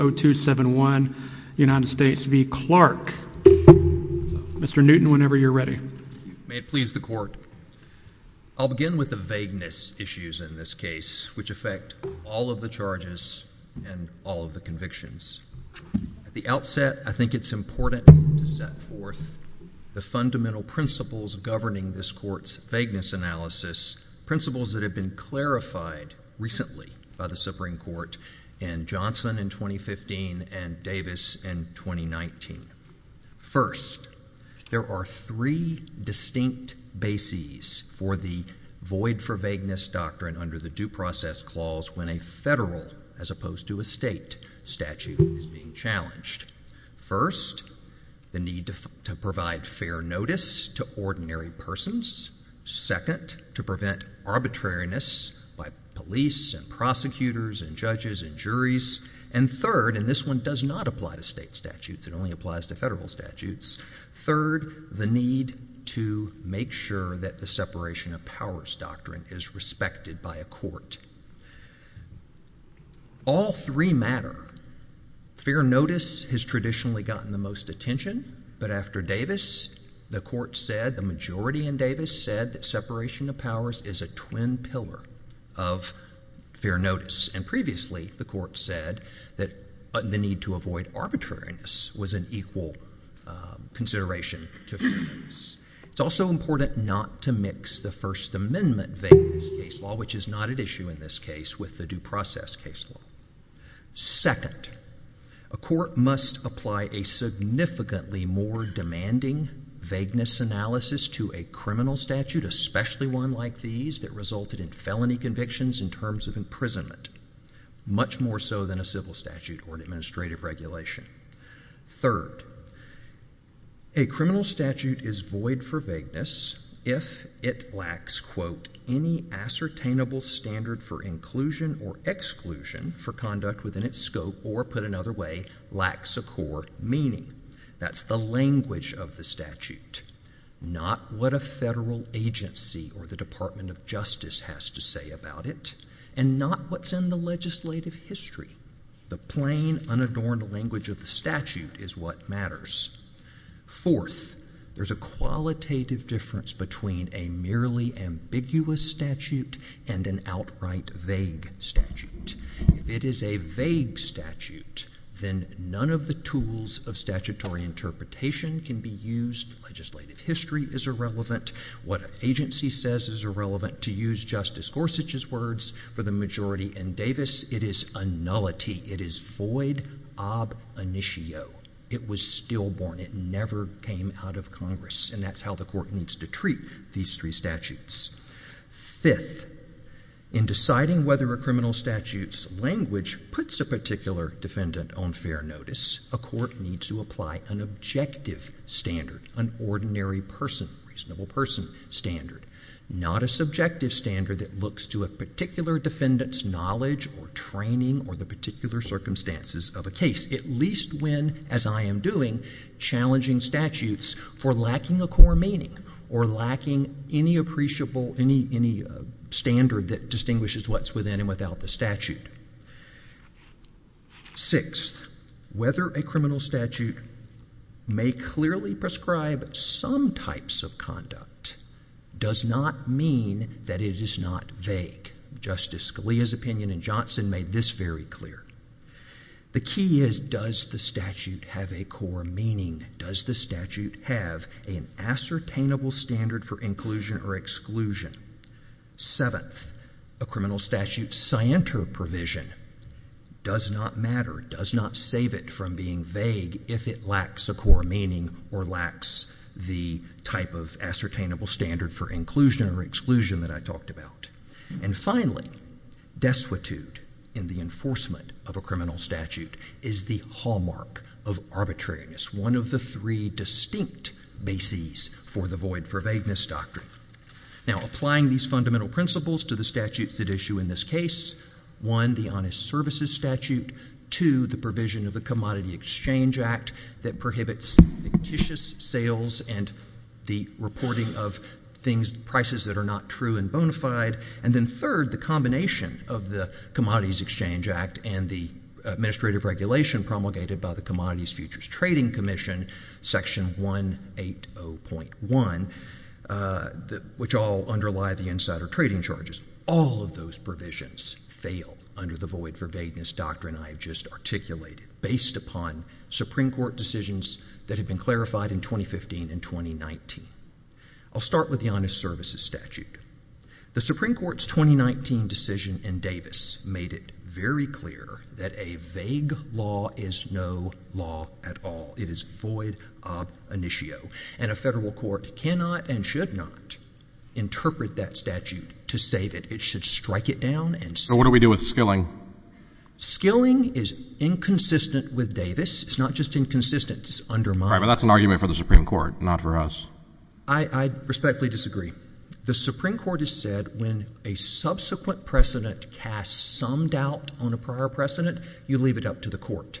I'll begin with the vagueness issues in this case, which affect all of the charges and all of the convictions. At the outset, I think it's important to set forth the fundamental principles governing this court's vagueness analysis, principles that have been clarified recently by the Supreme Court. In Johnson, in 2015, the Supreme Court ruled that the Supreme Court ruled in 2015 and Davis in 2019. First, there are three distinct bases for the void for vagueness doctrine under the due process clause when a federal as opposed to a state statute is being challenged. First, the need to provide fair notice to ordinary persons. Second, to prevent arbitrariness by police and prosecutors and judges and juries. And third, and this one does not apply to state statutes, it only applies to federal statutes, third, the need to make sure that the separation of powers doctrine is respected by a court. All three matter. Fair notice has traditionally gotten the most attention, but after Davis, the court said, the majority in Davis said that separation of powers is a twin pillar of fair notice. And previously, the court said that the need to avoid arbitrariness was an equal consideration to fairness. It's also important not to mix the First Amendment vagueness case law, which is not at issue in this case, with the due process case law. Second, a court must apply a significantly more demanding vagueness analysis to a criminal statute, especially one like these that resulted in felony convictions in terms of imprisonment, much more so than a civil statute or an administrative regulation. Third, a criminal statute is void for vagueness if it lacks, quote, any ascertainable standard for inclusion or exclusion for conduct within its scope or, put another way, lacks a core meaning. That's the language of the federal agency or the Department of Justice has to say about it and not what's in the legislative history. The plain, unadorned language of the statute is what matters. Fourth, there's a qualitative difference between a merely ambiguous statute and an outright vague statute. If it is a vague statute, then none of the tools of statutory interpretation can be used. Legislative history is irrelevant. What an agency says is irrelevant. To use Justice Gorsuch's words for the majority in Davis, it is a nullity. It is void ob initio. It was stillborn. It never came out of Congress, and that's how the court needs to treat these three statutes. Fifth, in deciding whether a criminal statute's language puts a particular defendant on fair notice, a court needs to apply an objective standard, an ordinary person, reasonable person standard, not a subjective standard that looks to a particular defendant's knowledge or training or the particular circumstances of a case, at least when, as I am doing, challenging statutes for lacking a core meaning or lacking any standard that distinguishes what's within and without the statute. Sixth, whether a criminal statute may clearly prescribe some types of conduct does not mean that it is not vague. Justice Scalia's opinion in Johnson made this very clear. The key is, does the statute have a core meaning? Does the statute have an ascertainable standard for inclusion or exclusion? Seventh, a criminal statute's scienter provision does not matter, does not save it from being vague if it lacks a core meaning or lacks the type of ascertainable standard for inclusion or exclusion that I talked about. And finally, desuetude in the enforcement of a criminal statute is the hallmark of arbitrariness, one of the three distinct bases for the void-for-vagueness doctrine. Now, applying these fundamental principles to the statutes at issue in this case, one, the honest services statute, two, the provision of the Commodity Exchange Act that prohibits fictitious sales and the reporting of things, prices that are not true and bona fide, and then third, the combination of the Commodities Exchange Act and the administrative regulation promulgated by the Commodities Futures Trading Commission, Section 180.1, which all underlie the insider trading charges. All of those provisions fail under the void-for-vagueness doctrine I have just articulated based upon Supreme Court decisions that have been clarified in 2015 and 2019. I'll start with the honest services statute. The Supreme Court's 2019 decision in Davis made it very clear that a vague law is no law at all. It is void of initio. And a federal court cannot and should not interpret that statute to say that it should strike it down and — So what do we do with skilling? Skilling is inconsistent with Davis. It's not just inconsistent. It's undermined. All right. But that's an argument for the Supreme Court, not for us. Well, I respectfully disagree. The Supreme Court has said when a subsequent precedent casts some doubt on a prior precedent, you leave it up to the court.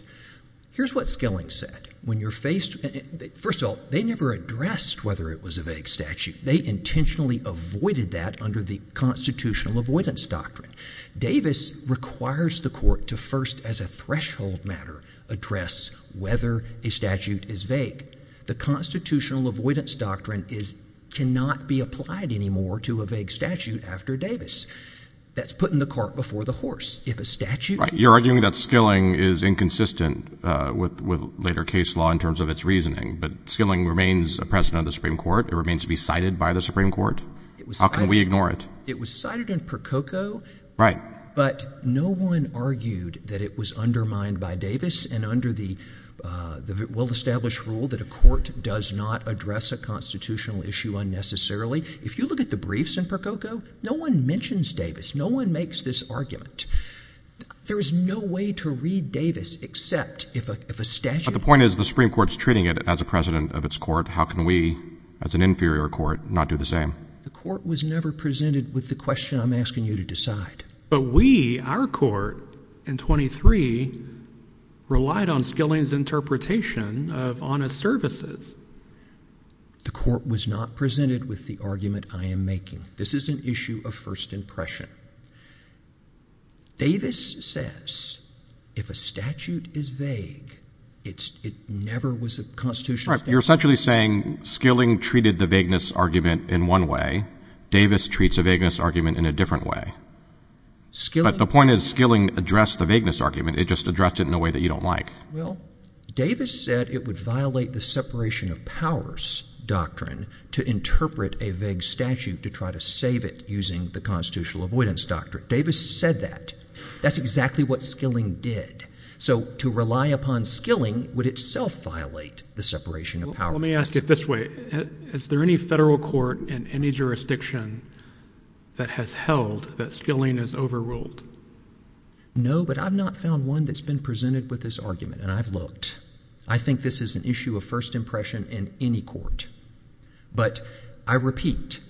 Here's what skilling said. When you're faced — first of all, they never addressed whether it was a vague statute. They intentionally avoided that under the constitutional avoidance doctrine. Davis requires the court to first, as a threshold matter, address whether a statute is vague. The constitutional avoidance doctrine cannot be applied anymore to a vague statute after Davis. That's putting the cart before the horse. If a statute — Right. You're arguing that skilling is inconsistent with later case law in terms of its reasoning. But skilling remains a precedent of the Supreme Court. It remains to be cited by the Supreme Court. How can we ignore it? It was cited in Prococo. Right. But no one argued that it was undermined by Davis and under the well-established rule that a court does not address a constitutional issue unnecessarily. If you look at the briefs in Prococo, no one mentions Davis. No one makes this argument. There is no way to read Davis except if a statute — But the point is the Supreme Court's treating it as a precedent of its court. How can we, as an inferior court, not do the same? The court was never presented with the question I'm asking you to decide. But we, our court in 23, relied on skilling's interpretation of honest services. The court was not presented with the argument I am making. This is an issue of first impression. Davis says if a statute is vague, it never was a constitutional statute. Right. You're essentially saying skilling treated the vagueness argument in one way. Davis treats a vagueness argument in a different way. But the point is skilling addressed the vagueness argument. It just addressed it in a way that you don't like. Well, Davis said it would violate the separation of powers doctrine to interpret a vague statute to try to save it using the constitutional avoidance doctrine. Davis said that. That's exactly what skilling did. So to rely upon skilling would itself violate the separation of powers. Let me ask it this way. Is there any federal court in any jurisdiction that has held that skilling is overruled? No, but I've not found one that's been presented with this argument, and I've looked. I think this is an issue of first impression in any court. But I repeat,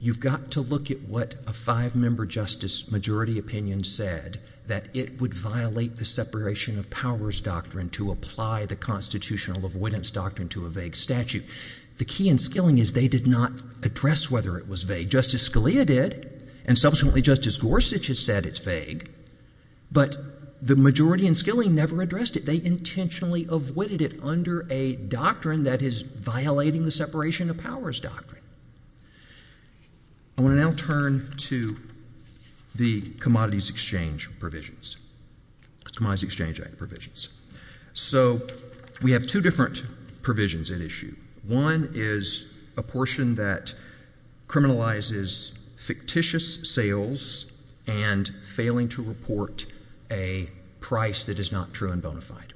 you've got to look at what a five-member justice majority opinion said, that it would violate the separation of powers doctrine to apply the constitutional avoidance doctrine to a vague statute. The key in skilling is they did not address whether it was vague. Justice Scalia did, and subsequently Justice Gorsuch has said it's vague. But the majority in skilling never addressed it. They intentionally avoided it under a doctrine that is violating the separation of powers doctrine. I want to now turn to the Commodities Exchange Act provisions. So we have two different provisions at issue. One is a portion that criminalizes fictitious sales and failing to report a price that is not true and bona fide.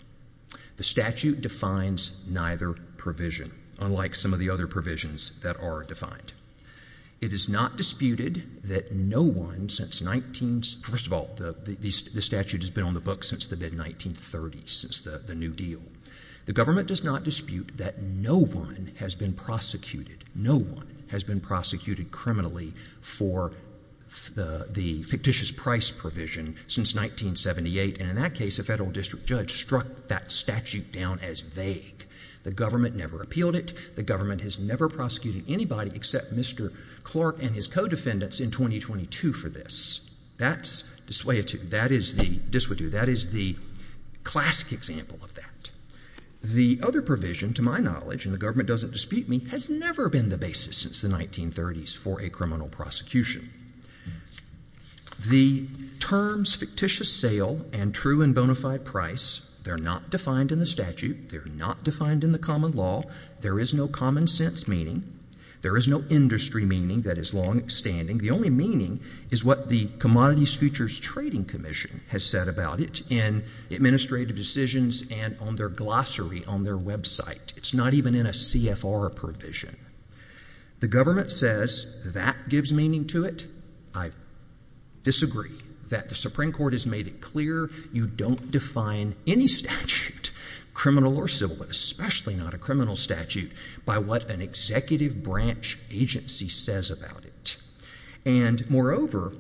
The statute defines neither provision, unlike some of the other provisions that are defined. It is not disputed that no one since 19—first of all, the statute has been on the books since the mid-1930s, since the New Deal. The government does not dispute that no one has been prosecuted, no one has been prosecuted criminally for the fictitious price provision since 1978. And in that case, a federal district judge struck that statute down as vague. The government never appealed it. The government has never prosecuted anybody except Mr. Clark and his co-defendants in 2022 for this. That's dissuadu. That is the classic example of that. The other provision, to my knowledge, and the government doesn't dispute me, has never been the basis since the 1930s for a criminal prosecution. The terms fictitious sale and true and bona fide price, they're not defined in the statute. They're not defined in the common law. There is no common sense meaning. There is no industry meaning that is longstanding. The only meaning is what the Commodities Futures Trading Commission has said about it in administrative decisions and on their glossary on their website. It's not even in a CFR provision. The government says that gives meaning to it. I disagree that the Supreme Court has made it clear you don't define any statute, criminal or civil, but especially not a criminal statute, by what an executive branch agency says about it. And, moreover,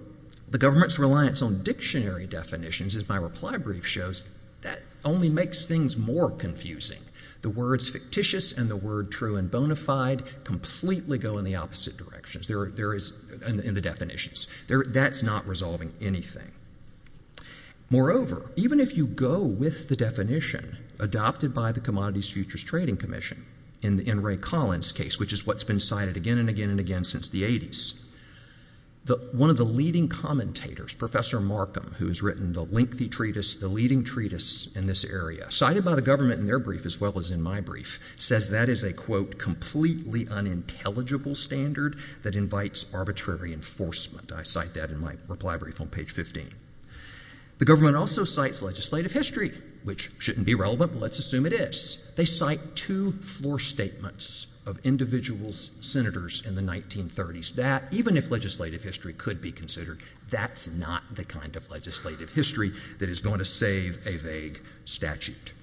the government's reliance on dictionary definitions, as my reply brief shows, that only makes things more confusing. The words fictitious and the word true and bona fide completely go in the opposite directions in the definitions. That's not resolving anything. Moreover, even if you go with the definition adopted by the Commodities Futures Trading Commission in Ray Collins' case, which is what's been cited again and again and again since the 80s, one of the leading commentators, Professor Markham, who has written the lengthy treatise, the leading treatise in this area, cited by the government in their brief as well as in my brief, says that is a, quote, completely unintelligible standard that invites arbitrary enforcement. I cite that in my reply brief on page 15. The government also cites legislative history, which shouldn't be relevant, but let's assume it is. They cite two floor statements of individual senators in the 1930s. That, even if legislative history could be considered, that's not the kind of legislative history that is going to save a vague statute.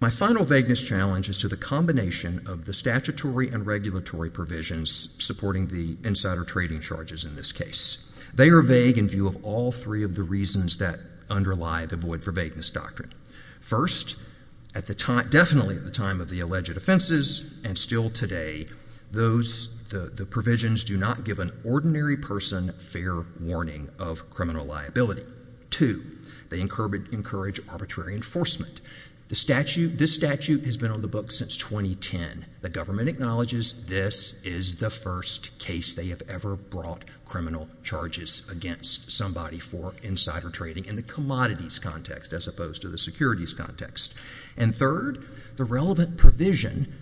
My final vagueness challenge is to the combination of the statutory and regulatory provisions supporting the insider trading charges in this case. They are vague in view of all three of the reasons that underlie the void for vagueness doctrine. First, definitely at the time of the alleged offenses and still today, the provisions do not give an ordinary person fair warning of criminal liability. Two, they encourage arbitrary enforcement. This statute has been on the books since 2010. The government acknowledges this is the first case they have ever brought criminal charges against somebody for insider trading in the commodities context as opposed to the securities context. And third, the relevant provision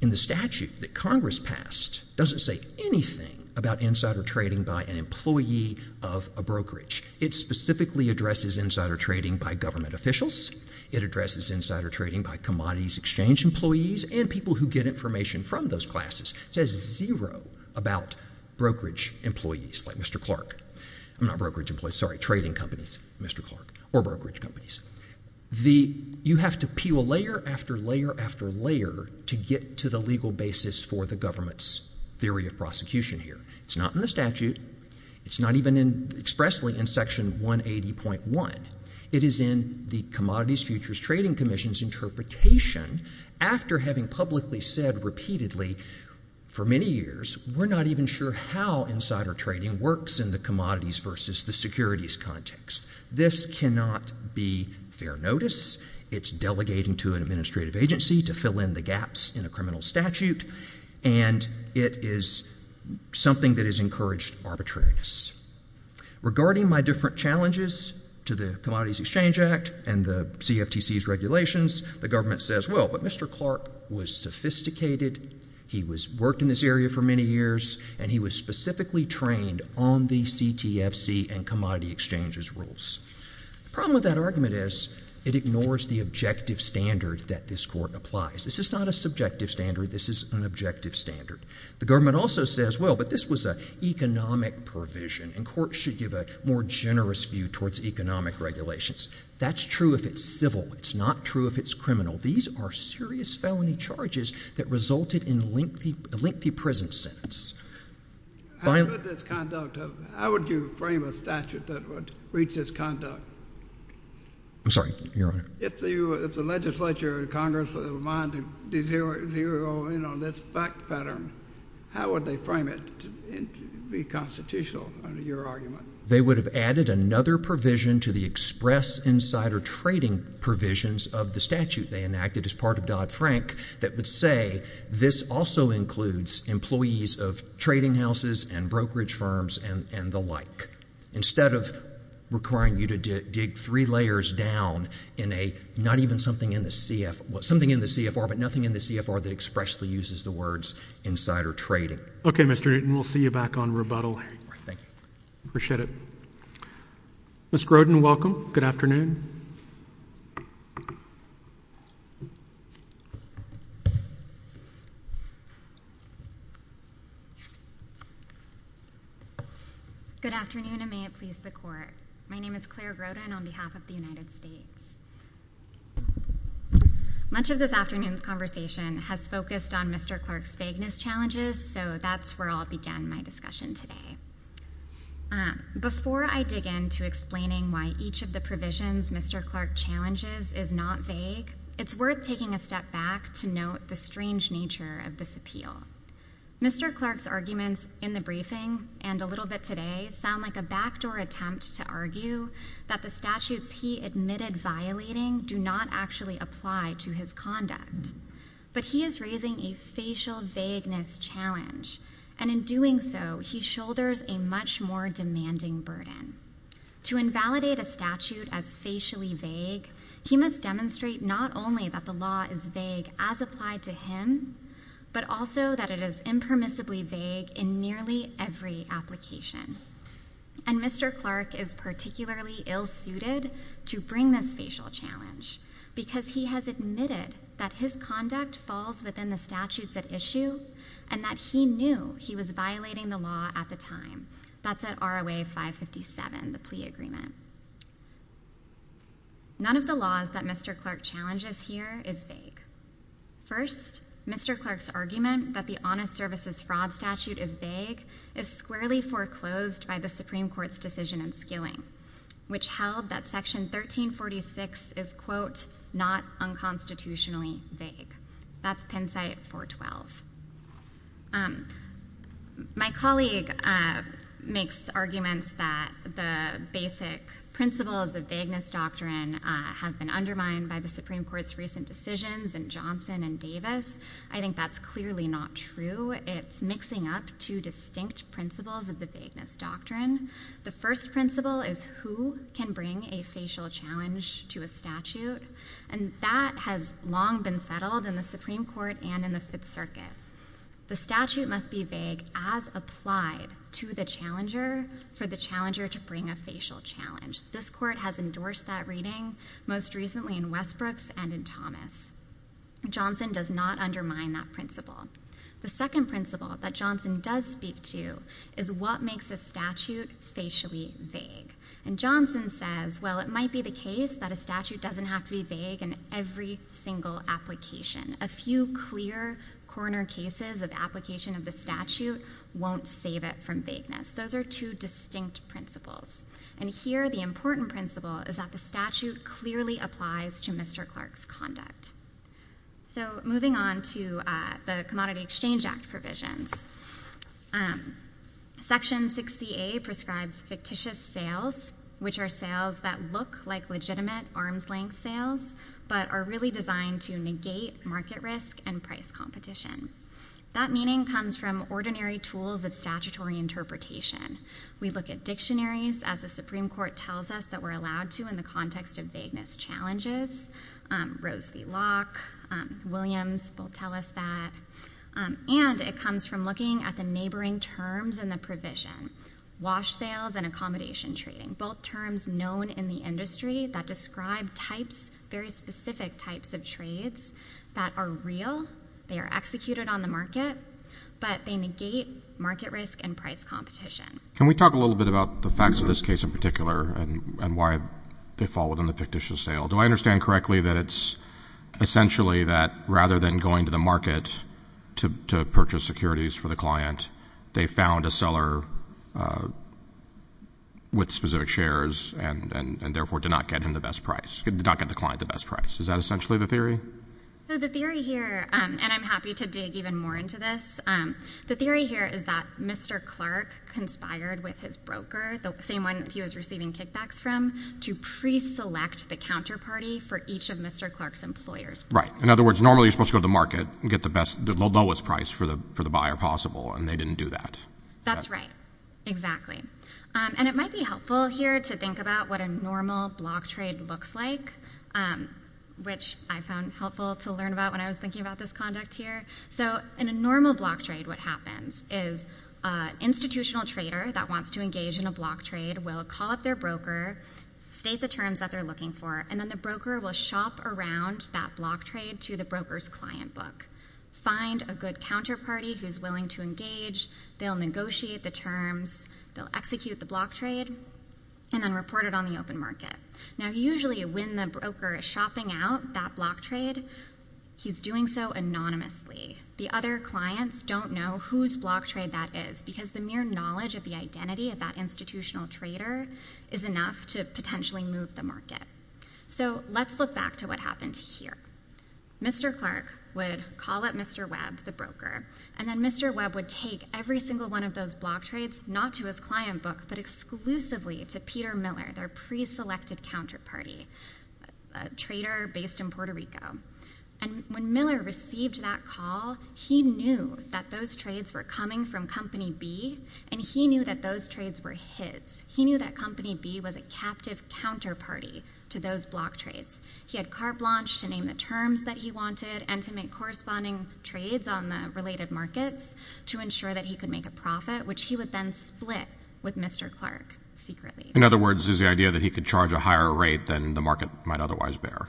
in the statute that Congress passed doesn't say anything about insider trading by an employee of a brokerage. It specifically addresses insider trading by government officials. It addresses insider trading by commodities exchange employees and people who get information from those classes. It says zero about brokerage employees like Mr. Clark. I'm not brokerage employees. Sorry, trading companies, Mr. Clark, or brokerage companies. You have to peel layer after layer after layer to get to the legal basis for the government's theory of prosecution here. It's not in the statute. It's not even expressly in Section 180.1. It is in the Commodities Futures Trading Commission's interpretation after having publicly said repeatedly for many years, we're not even sure how insider trading works in the commodities versus the securities context. This cannot be fair notice. It's delegating to an administrative agency to fill in the gaps in a criminal statute. And it is something that is encouraged arbitrariness. Regarding my different challenges to the Commodities Exchange Act and the CFTC's regulations, the government says, well, but Mr. Clark was sophisticated. He worked in this area for many years, and he was specifically trained on the CTFC and commodity exchanges rules. The problem with that argument is it ignores the objective standard that this court applies. This is not a subjective standard. This is an objective standard. The government also says, well, but this was an economic provision, and courts should give a more generous view towards economic regulations. That's true if it's civil. It's not true if it's criminal. These are serious felony charges that resulted in a lengthy prison sentence. I would frame a statute that would reach this conduct. I'm sorry, Your Honor. If the legislature or the Congress were to abide to this fact pattern, how would they frame it to be constitutional under your argument? They would have added another provision to the express insider trading provisions of the statute they enacted as part of Dodd-Frank that would say this also includes employees of trading houses and brokerage firms and the like. Instead of requiring you to dig three layers down in a not even something in the CFR, but nothing in the CFR that expressly uses the words insider trading. Okay, Mr. Newton. We'll see you back on rebuttal. Thank you. I appreciate it. Ms. Grodin, welcome. Good afternoon. Good afternoon, and may it please the Court. My name is Claire Grodin on behalf of the United States. Much of this afternoon's conversation has focused on Mr. Clark's vagueness challenges, so that's where I'll begin my discussion today. Before I dig into explaining why each of the provisions Mr. Clark challenges is not vague, it's worth taking a step back to note the strange nature of this appeal. Mr. Clark's arguments in the briefing and a little bit today sound like a backdoor attempt to argue that the statutes he admitted violating do not actually apply to his conduct, but he is raising a facial vagueness challenge, and in doing so, he shoulders a much more demanding burden. To invalidate a statute as facially vague, he must demonstrate not only that the law is vague as applied to him, but also that it is impermissibly vague in nearly every application. And Mr. Clark is particularly ill-suited to bring this facial challenge, because he has admitted that his conduct falls within the statutes at issue, and that he knew he was violating the law at the time. That's at ROA 557, the plea agreement. None of the laws that Mr. Clark challenges here is vague. First, Mr. Clark's argument that the Honest Services Fraud Statute is vague is squarely foreclosed by the Supreme Court's decision in Skilling, which held that Section 1346 is, quote, not unconstitutionally vague. That's Penn site 412. My colleague makes arguments that the basic principles of vagueness doctrine have been undermined by the Supreme Court's recent decisions in Johnson and Davis. I think that's clearly not true. It's mixing up two distinct principles of the vagueness doctrine. The first principle is who can bring a facial challenge to a statute, and that has long been settled in the Supreme Court and in the Fifth Circuit. The statute must be vague as applied to the challenger for the challenger to bring a facial challenge. This court has endorsed that reading, most recently in Westbrooks and in Thomas. Johnson does not undermine that principle. The second principle that Johnson does speak to is what makes a statute facially vague. And Johnson says, well, it might be the case that a statute doesn't have to be vague in every single application. A few clear corner cases of application of the statute won't save it from vagueness. Those are two distinct principles. And here the important principle is that the statute clearly applies to Mr. Clark's conduct. So moving on to the Commodity Exchange Act provisions, Section 60A prescribes fictitious sales, which are sales that look like legitimate arm's-length sales, but are really designed to negate market risk and price competition. That meaning comes from ordinary tools of statutory interpretation. We look at dictionaries, as the Supreme Court tells us that we're allowed to in the context of vagueness challenges. Rose v. Locke, Williams will tell us that. And it comes from looking at the neighboring terms in the provision, wash sales and accommodation trading, both terms known in the industry that describe types, very specific types of trades that are real, they are executed on the market, but they negate market risk and price competition. Can we talk a little bit about the facts of this case in particular and why they fall within the fictitious sale? Do I understand correctly that it's essentially that rather than going to the market to purchase securities for the client, they found a seller with specific shares and therefore did not get the client the best price? Is that essentially the theory? So the theory here, and I'm happy to dig even more into this, the theory here is that Mr. Clark conspired with his broker, the same one he was receiving kickbacks from, to pre-select the counterparty for each of Mr. Clark's employers. Right. In other words, normally you're supposed to go to the market and get the lowest price for the buyer possible, and they didn't do that. That's right, exactly. And it might be helpful here to think about what a normal block trade looks like, which I found helpful to learn about when I was thinking about this conduct here. So in a normal block trade, what happens is an institutional trader that wants to engage in a block trade will call up their broker, state the terms that they're looking for, and then the broker will shop around that block trade to the broker's client book, find a good counterparty who's willing to engage, they'll negotiate the terms, they'll execute the block trade, and then report it on the open market. Now usually when the broker is shopping out that block trade, he's doing so anonymously. The other clients don't know whose block trade that is, because the mere knowledge of the identity of that institutional trader is enough to potentially move the market. So let's look back to what happened here. Mr. Clark would call up Mr. Webb, the broker, and then Mr. Webb would take every single one of those block trades not to his client book, but exclusively to Peter Miller, their preselected counterparty, a trader based in Puerto Rico. And when Miller received that call, he knew that those trades were coming from Company B, and he knew that those trades were his. He knew that Company B was a captive counterparty to those block trades. He had carte blanche to name the terms that he wanted and to make corresponding trades on the related markets to ensure that he could make a profit, which he would then split with Mr. Clark secretly. In other words, there's the idea that he could charge a higher rate than the market might otherwise bear.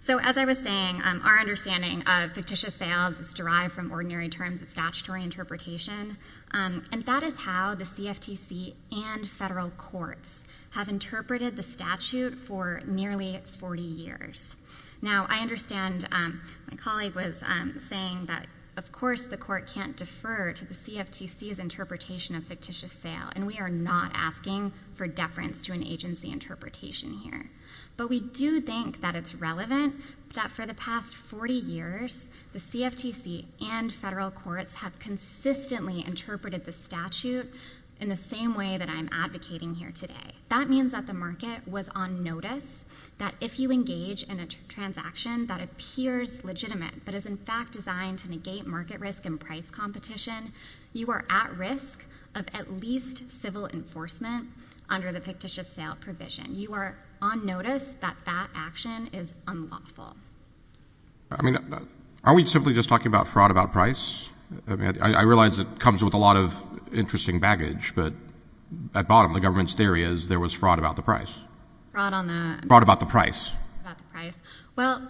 So as I was saying, our understanding of fictitious sales is derived from ordinary terms of statutory interpretation, and that is how the CFTC and federal courts have interpreted the statute for nearly 40 years. Now, I understand my colleague was saying that, of course, the court can't defer to the CFTC's interpretation of fictitious sale, and we are not asking for deference to an agency interpretation here. But we do think that it's relevant that for the past 40 years, the CFTC and federal courts have consistently interpreted the statute in the same way that I'm advocating here today. That means that the market was on notice that if you engage in a transaction that appears legitimate but is in fact designed to negate market risk and price competition, you are at risk of at least civil enforcement under the fictitious sale provision. You are on notice that that action is unlawful. I mean, aren't we simply just talking about fraud about price? I realize it comes with a lot of interesting baggage, but at bottom, the government's theory is there was fraud about the price. Fraud about the price. Well,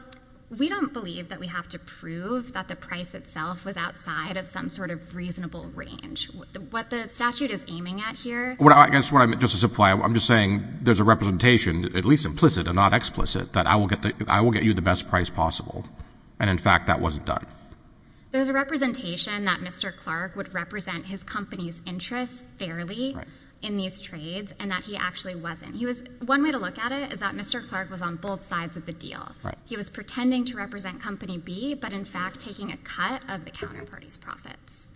we don't believe that we have to prove that the price itself was outside of some sort of reasonable range. What the statute is aiming at here— I guess what I meant just to supply, I'm just saying there's a representation, at least implicit and not explicit, that I will get you the best price possible, and in fact that wasn't done. There's a representation that Mr. Clark would represent his company's interests fairly in these trades and that he actually wasn't. One way to look at it is that Mr. Clark was on both sides of the deal. He was pretending to represent Company B, but in fact taking a cut of the counterparty's profits.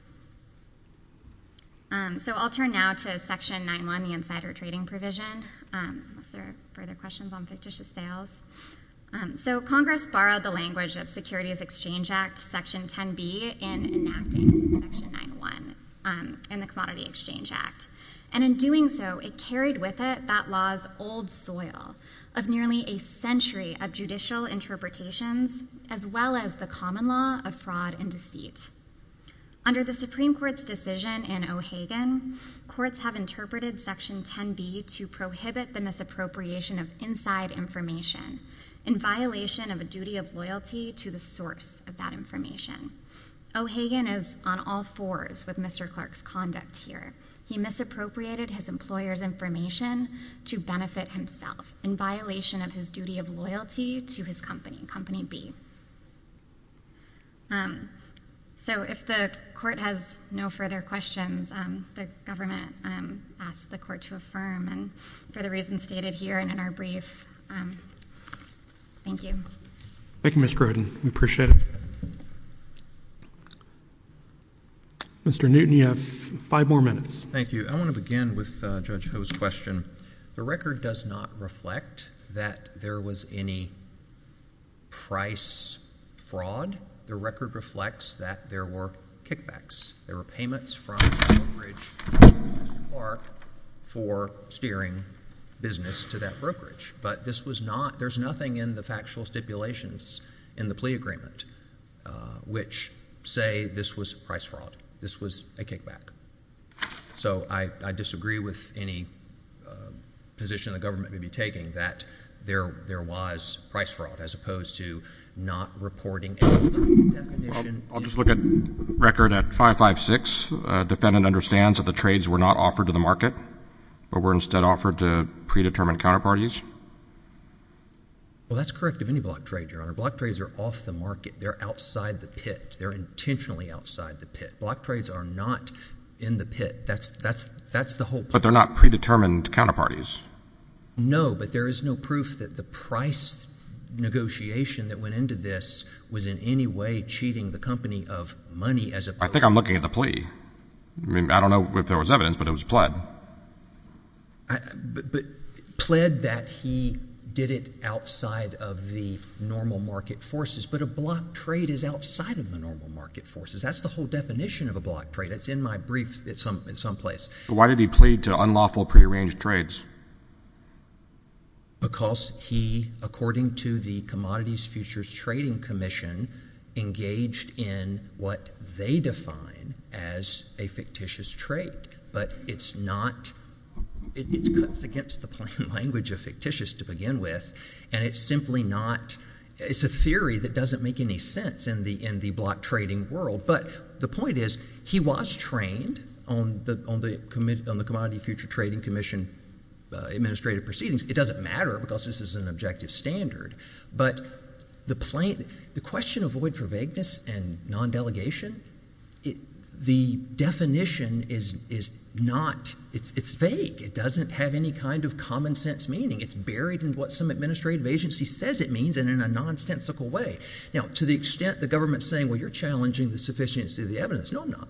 So I'll turn now to Section 9-1, the insider trading provision, unless there are further questions on fictitious sales. So Congress borrowed the language of Securities Exchange Act Section 10-B in enacting Section 9-1 in the Commodity Exchange Act, and in doing so, it carried with it that law's old soil of nearly a century of judicial interpretations as well as the common law of fraud and deceit. Under the Supreme Court's decision in O'Hagan, courts have interpreted Section 10-B to prohibit the misappropriation of inside information in violation of a duty of loyalty to the source of that information. O'Hagan is on all fours with Mr. Clark's conduct here. He misappropriated his employer's information to benefit himself in violation of his duty of loyalty to his company, Company B. So if the Court has no further questions, the government asks the Court to affirm. And for the reasons stated here and in our brief, thank you. Thank you, Ms. Grodin. We appreciate it. Mr. Newton, you have five more minutes. Thank you. I want to begin with Judge Ho's question. The record does not reflect that there was any price fraud. The record reflects that there were kickbacks. There were payments from Mr. Clark for steering business to that brokerage, but there's nothing in the factual stipulations in the plea agreement which say this was price fraud, this was a kickback. So I disagree with any position the government may be taking that there was price fraud as opposed to not reporting any other definition. I'll just look at record at 556. Defendant understands that the trades were not offered to the market but were instead offered to predetermined counterparties. Well, that's correct of any block trade, Your Honor. Block trades are off the market. They're outside the pit. They're intentionally outside the pit. Block trades are not in the pit. That's the whole point. But they're not predetermined counterparties. No, but there is no proof that the price negotiation that went into this was in any way cheating the company of money as opposed to the market. I think I'm looking at the plea. I don't know if there was evidence, but it was pled. But pled that he did it outside of the normal market forces, but a block trade is outside of the normal market forces. That's the whole definition of a block trade. It's in my brief at some place. Why did he plead to unlawful prearranged trades? Because he, according to the Commodities Futures Trading Commission, engaged in what they define as a fictitious trade. But it's not. It's against the plain language of fictitious to begin with, and it's simply not. It's a theory that doesn't make any sense in the block trading world. But the point is he was trained on the Commodities Futures Trading Commission administrative proceedings. It doesn't matter because this is an objective standard. But the question of void for vagueness and non-delegation, the definition is not. It's vague. It doesn't have any kind of common sense meaning. It's buried in what some administrative agency says it means in a nonsensical way. Now, to the extent the government is saying, well, you're challenging the sufficiency of the evidence. No, I'm not.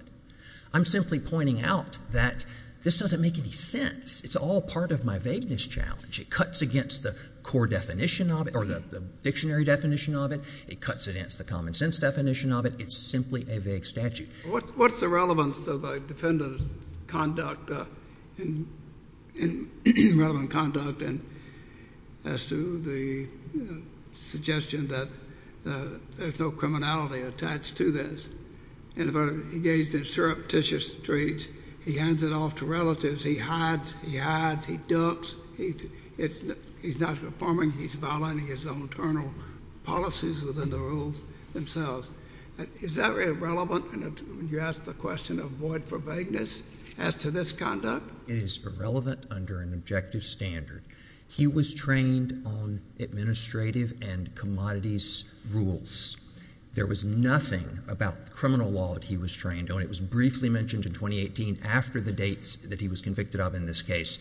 I'm simply pointing out that this doesn't make any sense. It's all part of my vagueness challenge. It cuts against the core definition of it or the dictionary definition of it. It cuts against the common sense definition of it. It's simply a vague statute. What's the relevance of the defendant's conduct and relevant conduct as to the suggestion that there's no criminality attached to this? And if I engaged in surreptitious trades, he hands it off to relatives. He hides. He hides. He ducks. He's not performing. He's violating his own internal policies within the rules themselves. Is that irrelevant when you ask the question of void for vagueness as to this conduct? It is irrelevant under an objective standard. He was trained on administrative and commodities rules. There was nothing about the criminal law that he was trained on. It was briefly mentioned in 2018 after the dates that he was convicted of in this case.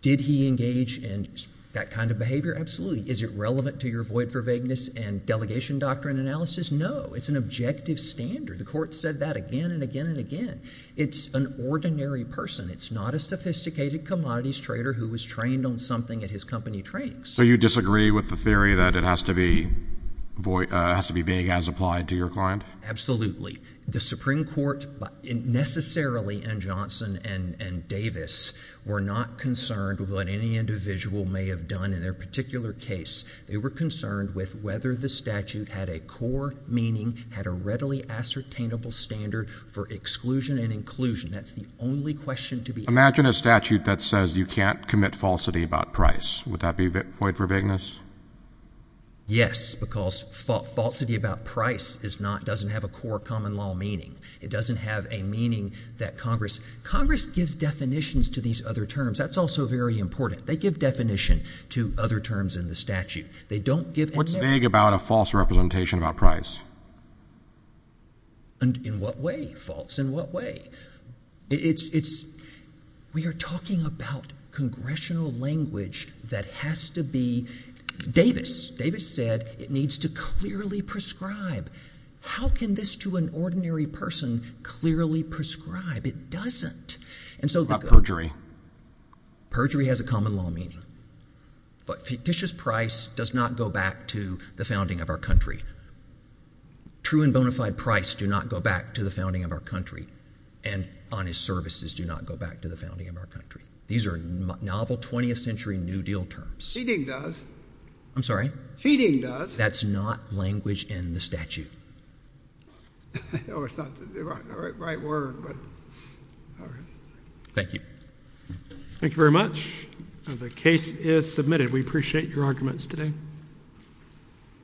Did he engage in that kind of behavior? Absolutely. Is it relevant to your void for vagueness and delegation doctrine analysis? No. It's an objective standard. The court said that again and again and again. It's an ordinary person. It's not a sophisticated commodities trader who was trained on something at his company trainings. So you disagree with the theory that it has to be vague as applied to your client? Absolutely. The Supreme Court necessarily, and Johnson and Davis, were not concerned with what any individual may have done in their particular case. They were concerned with whether the statute had a core meaning, had a readily ascertainable standard for exclusion and inclusion. That's the only question to be asked. Imagine a statute that says you can't commit falsity about price. Would that be void for vagueness? Yes, because falsity about price doesn't have a core common law meaning. It doesn't have a meaning that Congress—Congress gives definitions to these other terms. That's also very important. They give definition to other terms in the statute. They don't give— What's vague about a false representation about price? In what way false? In what way? It's—we are talking about congressional language that has to be—Davis. Davis said it needs to clearly prescribe. How can this to an ordinary person clearly prescribe? It doesn't. What about perjury? Perjury has a common law meaning. But fictitious price does not go back to the founding of our country. True and bona fide price do not go back to the founding of our country, and honest services do not go back to the founding of our country. These are novel 20th century New Deal terms. Feeding does. I'm sorry? Feeding does. That's not language in the statute. I know it's not the right word, but all right. Thank you. Thank you very much. The case is submitted. We appreciate your arguments today.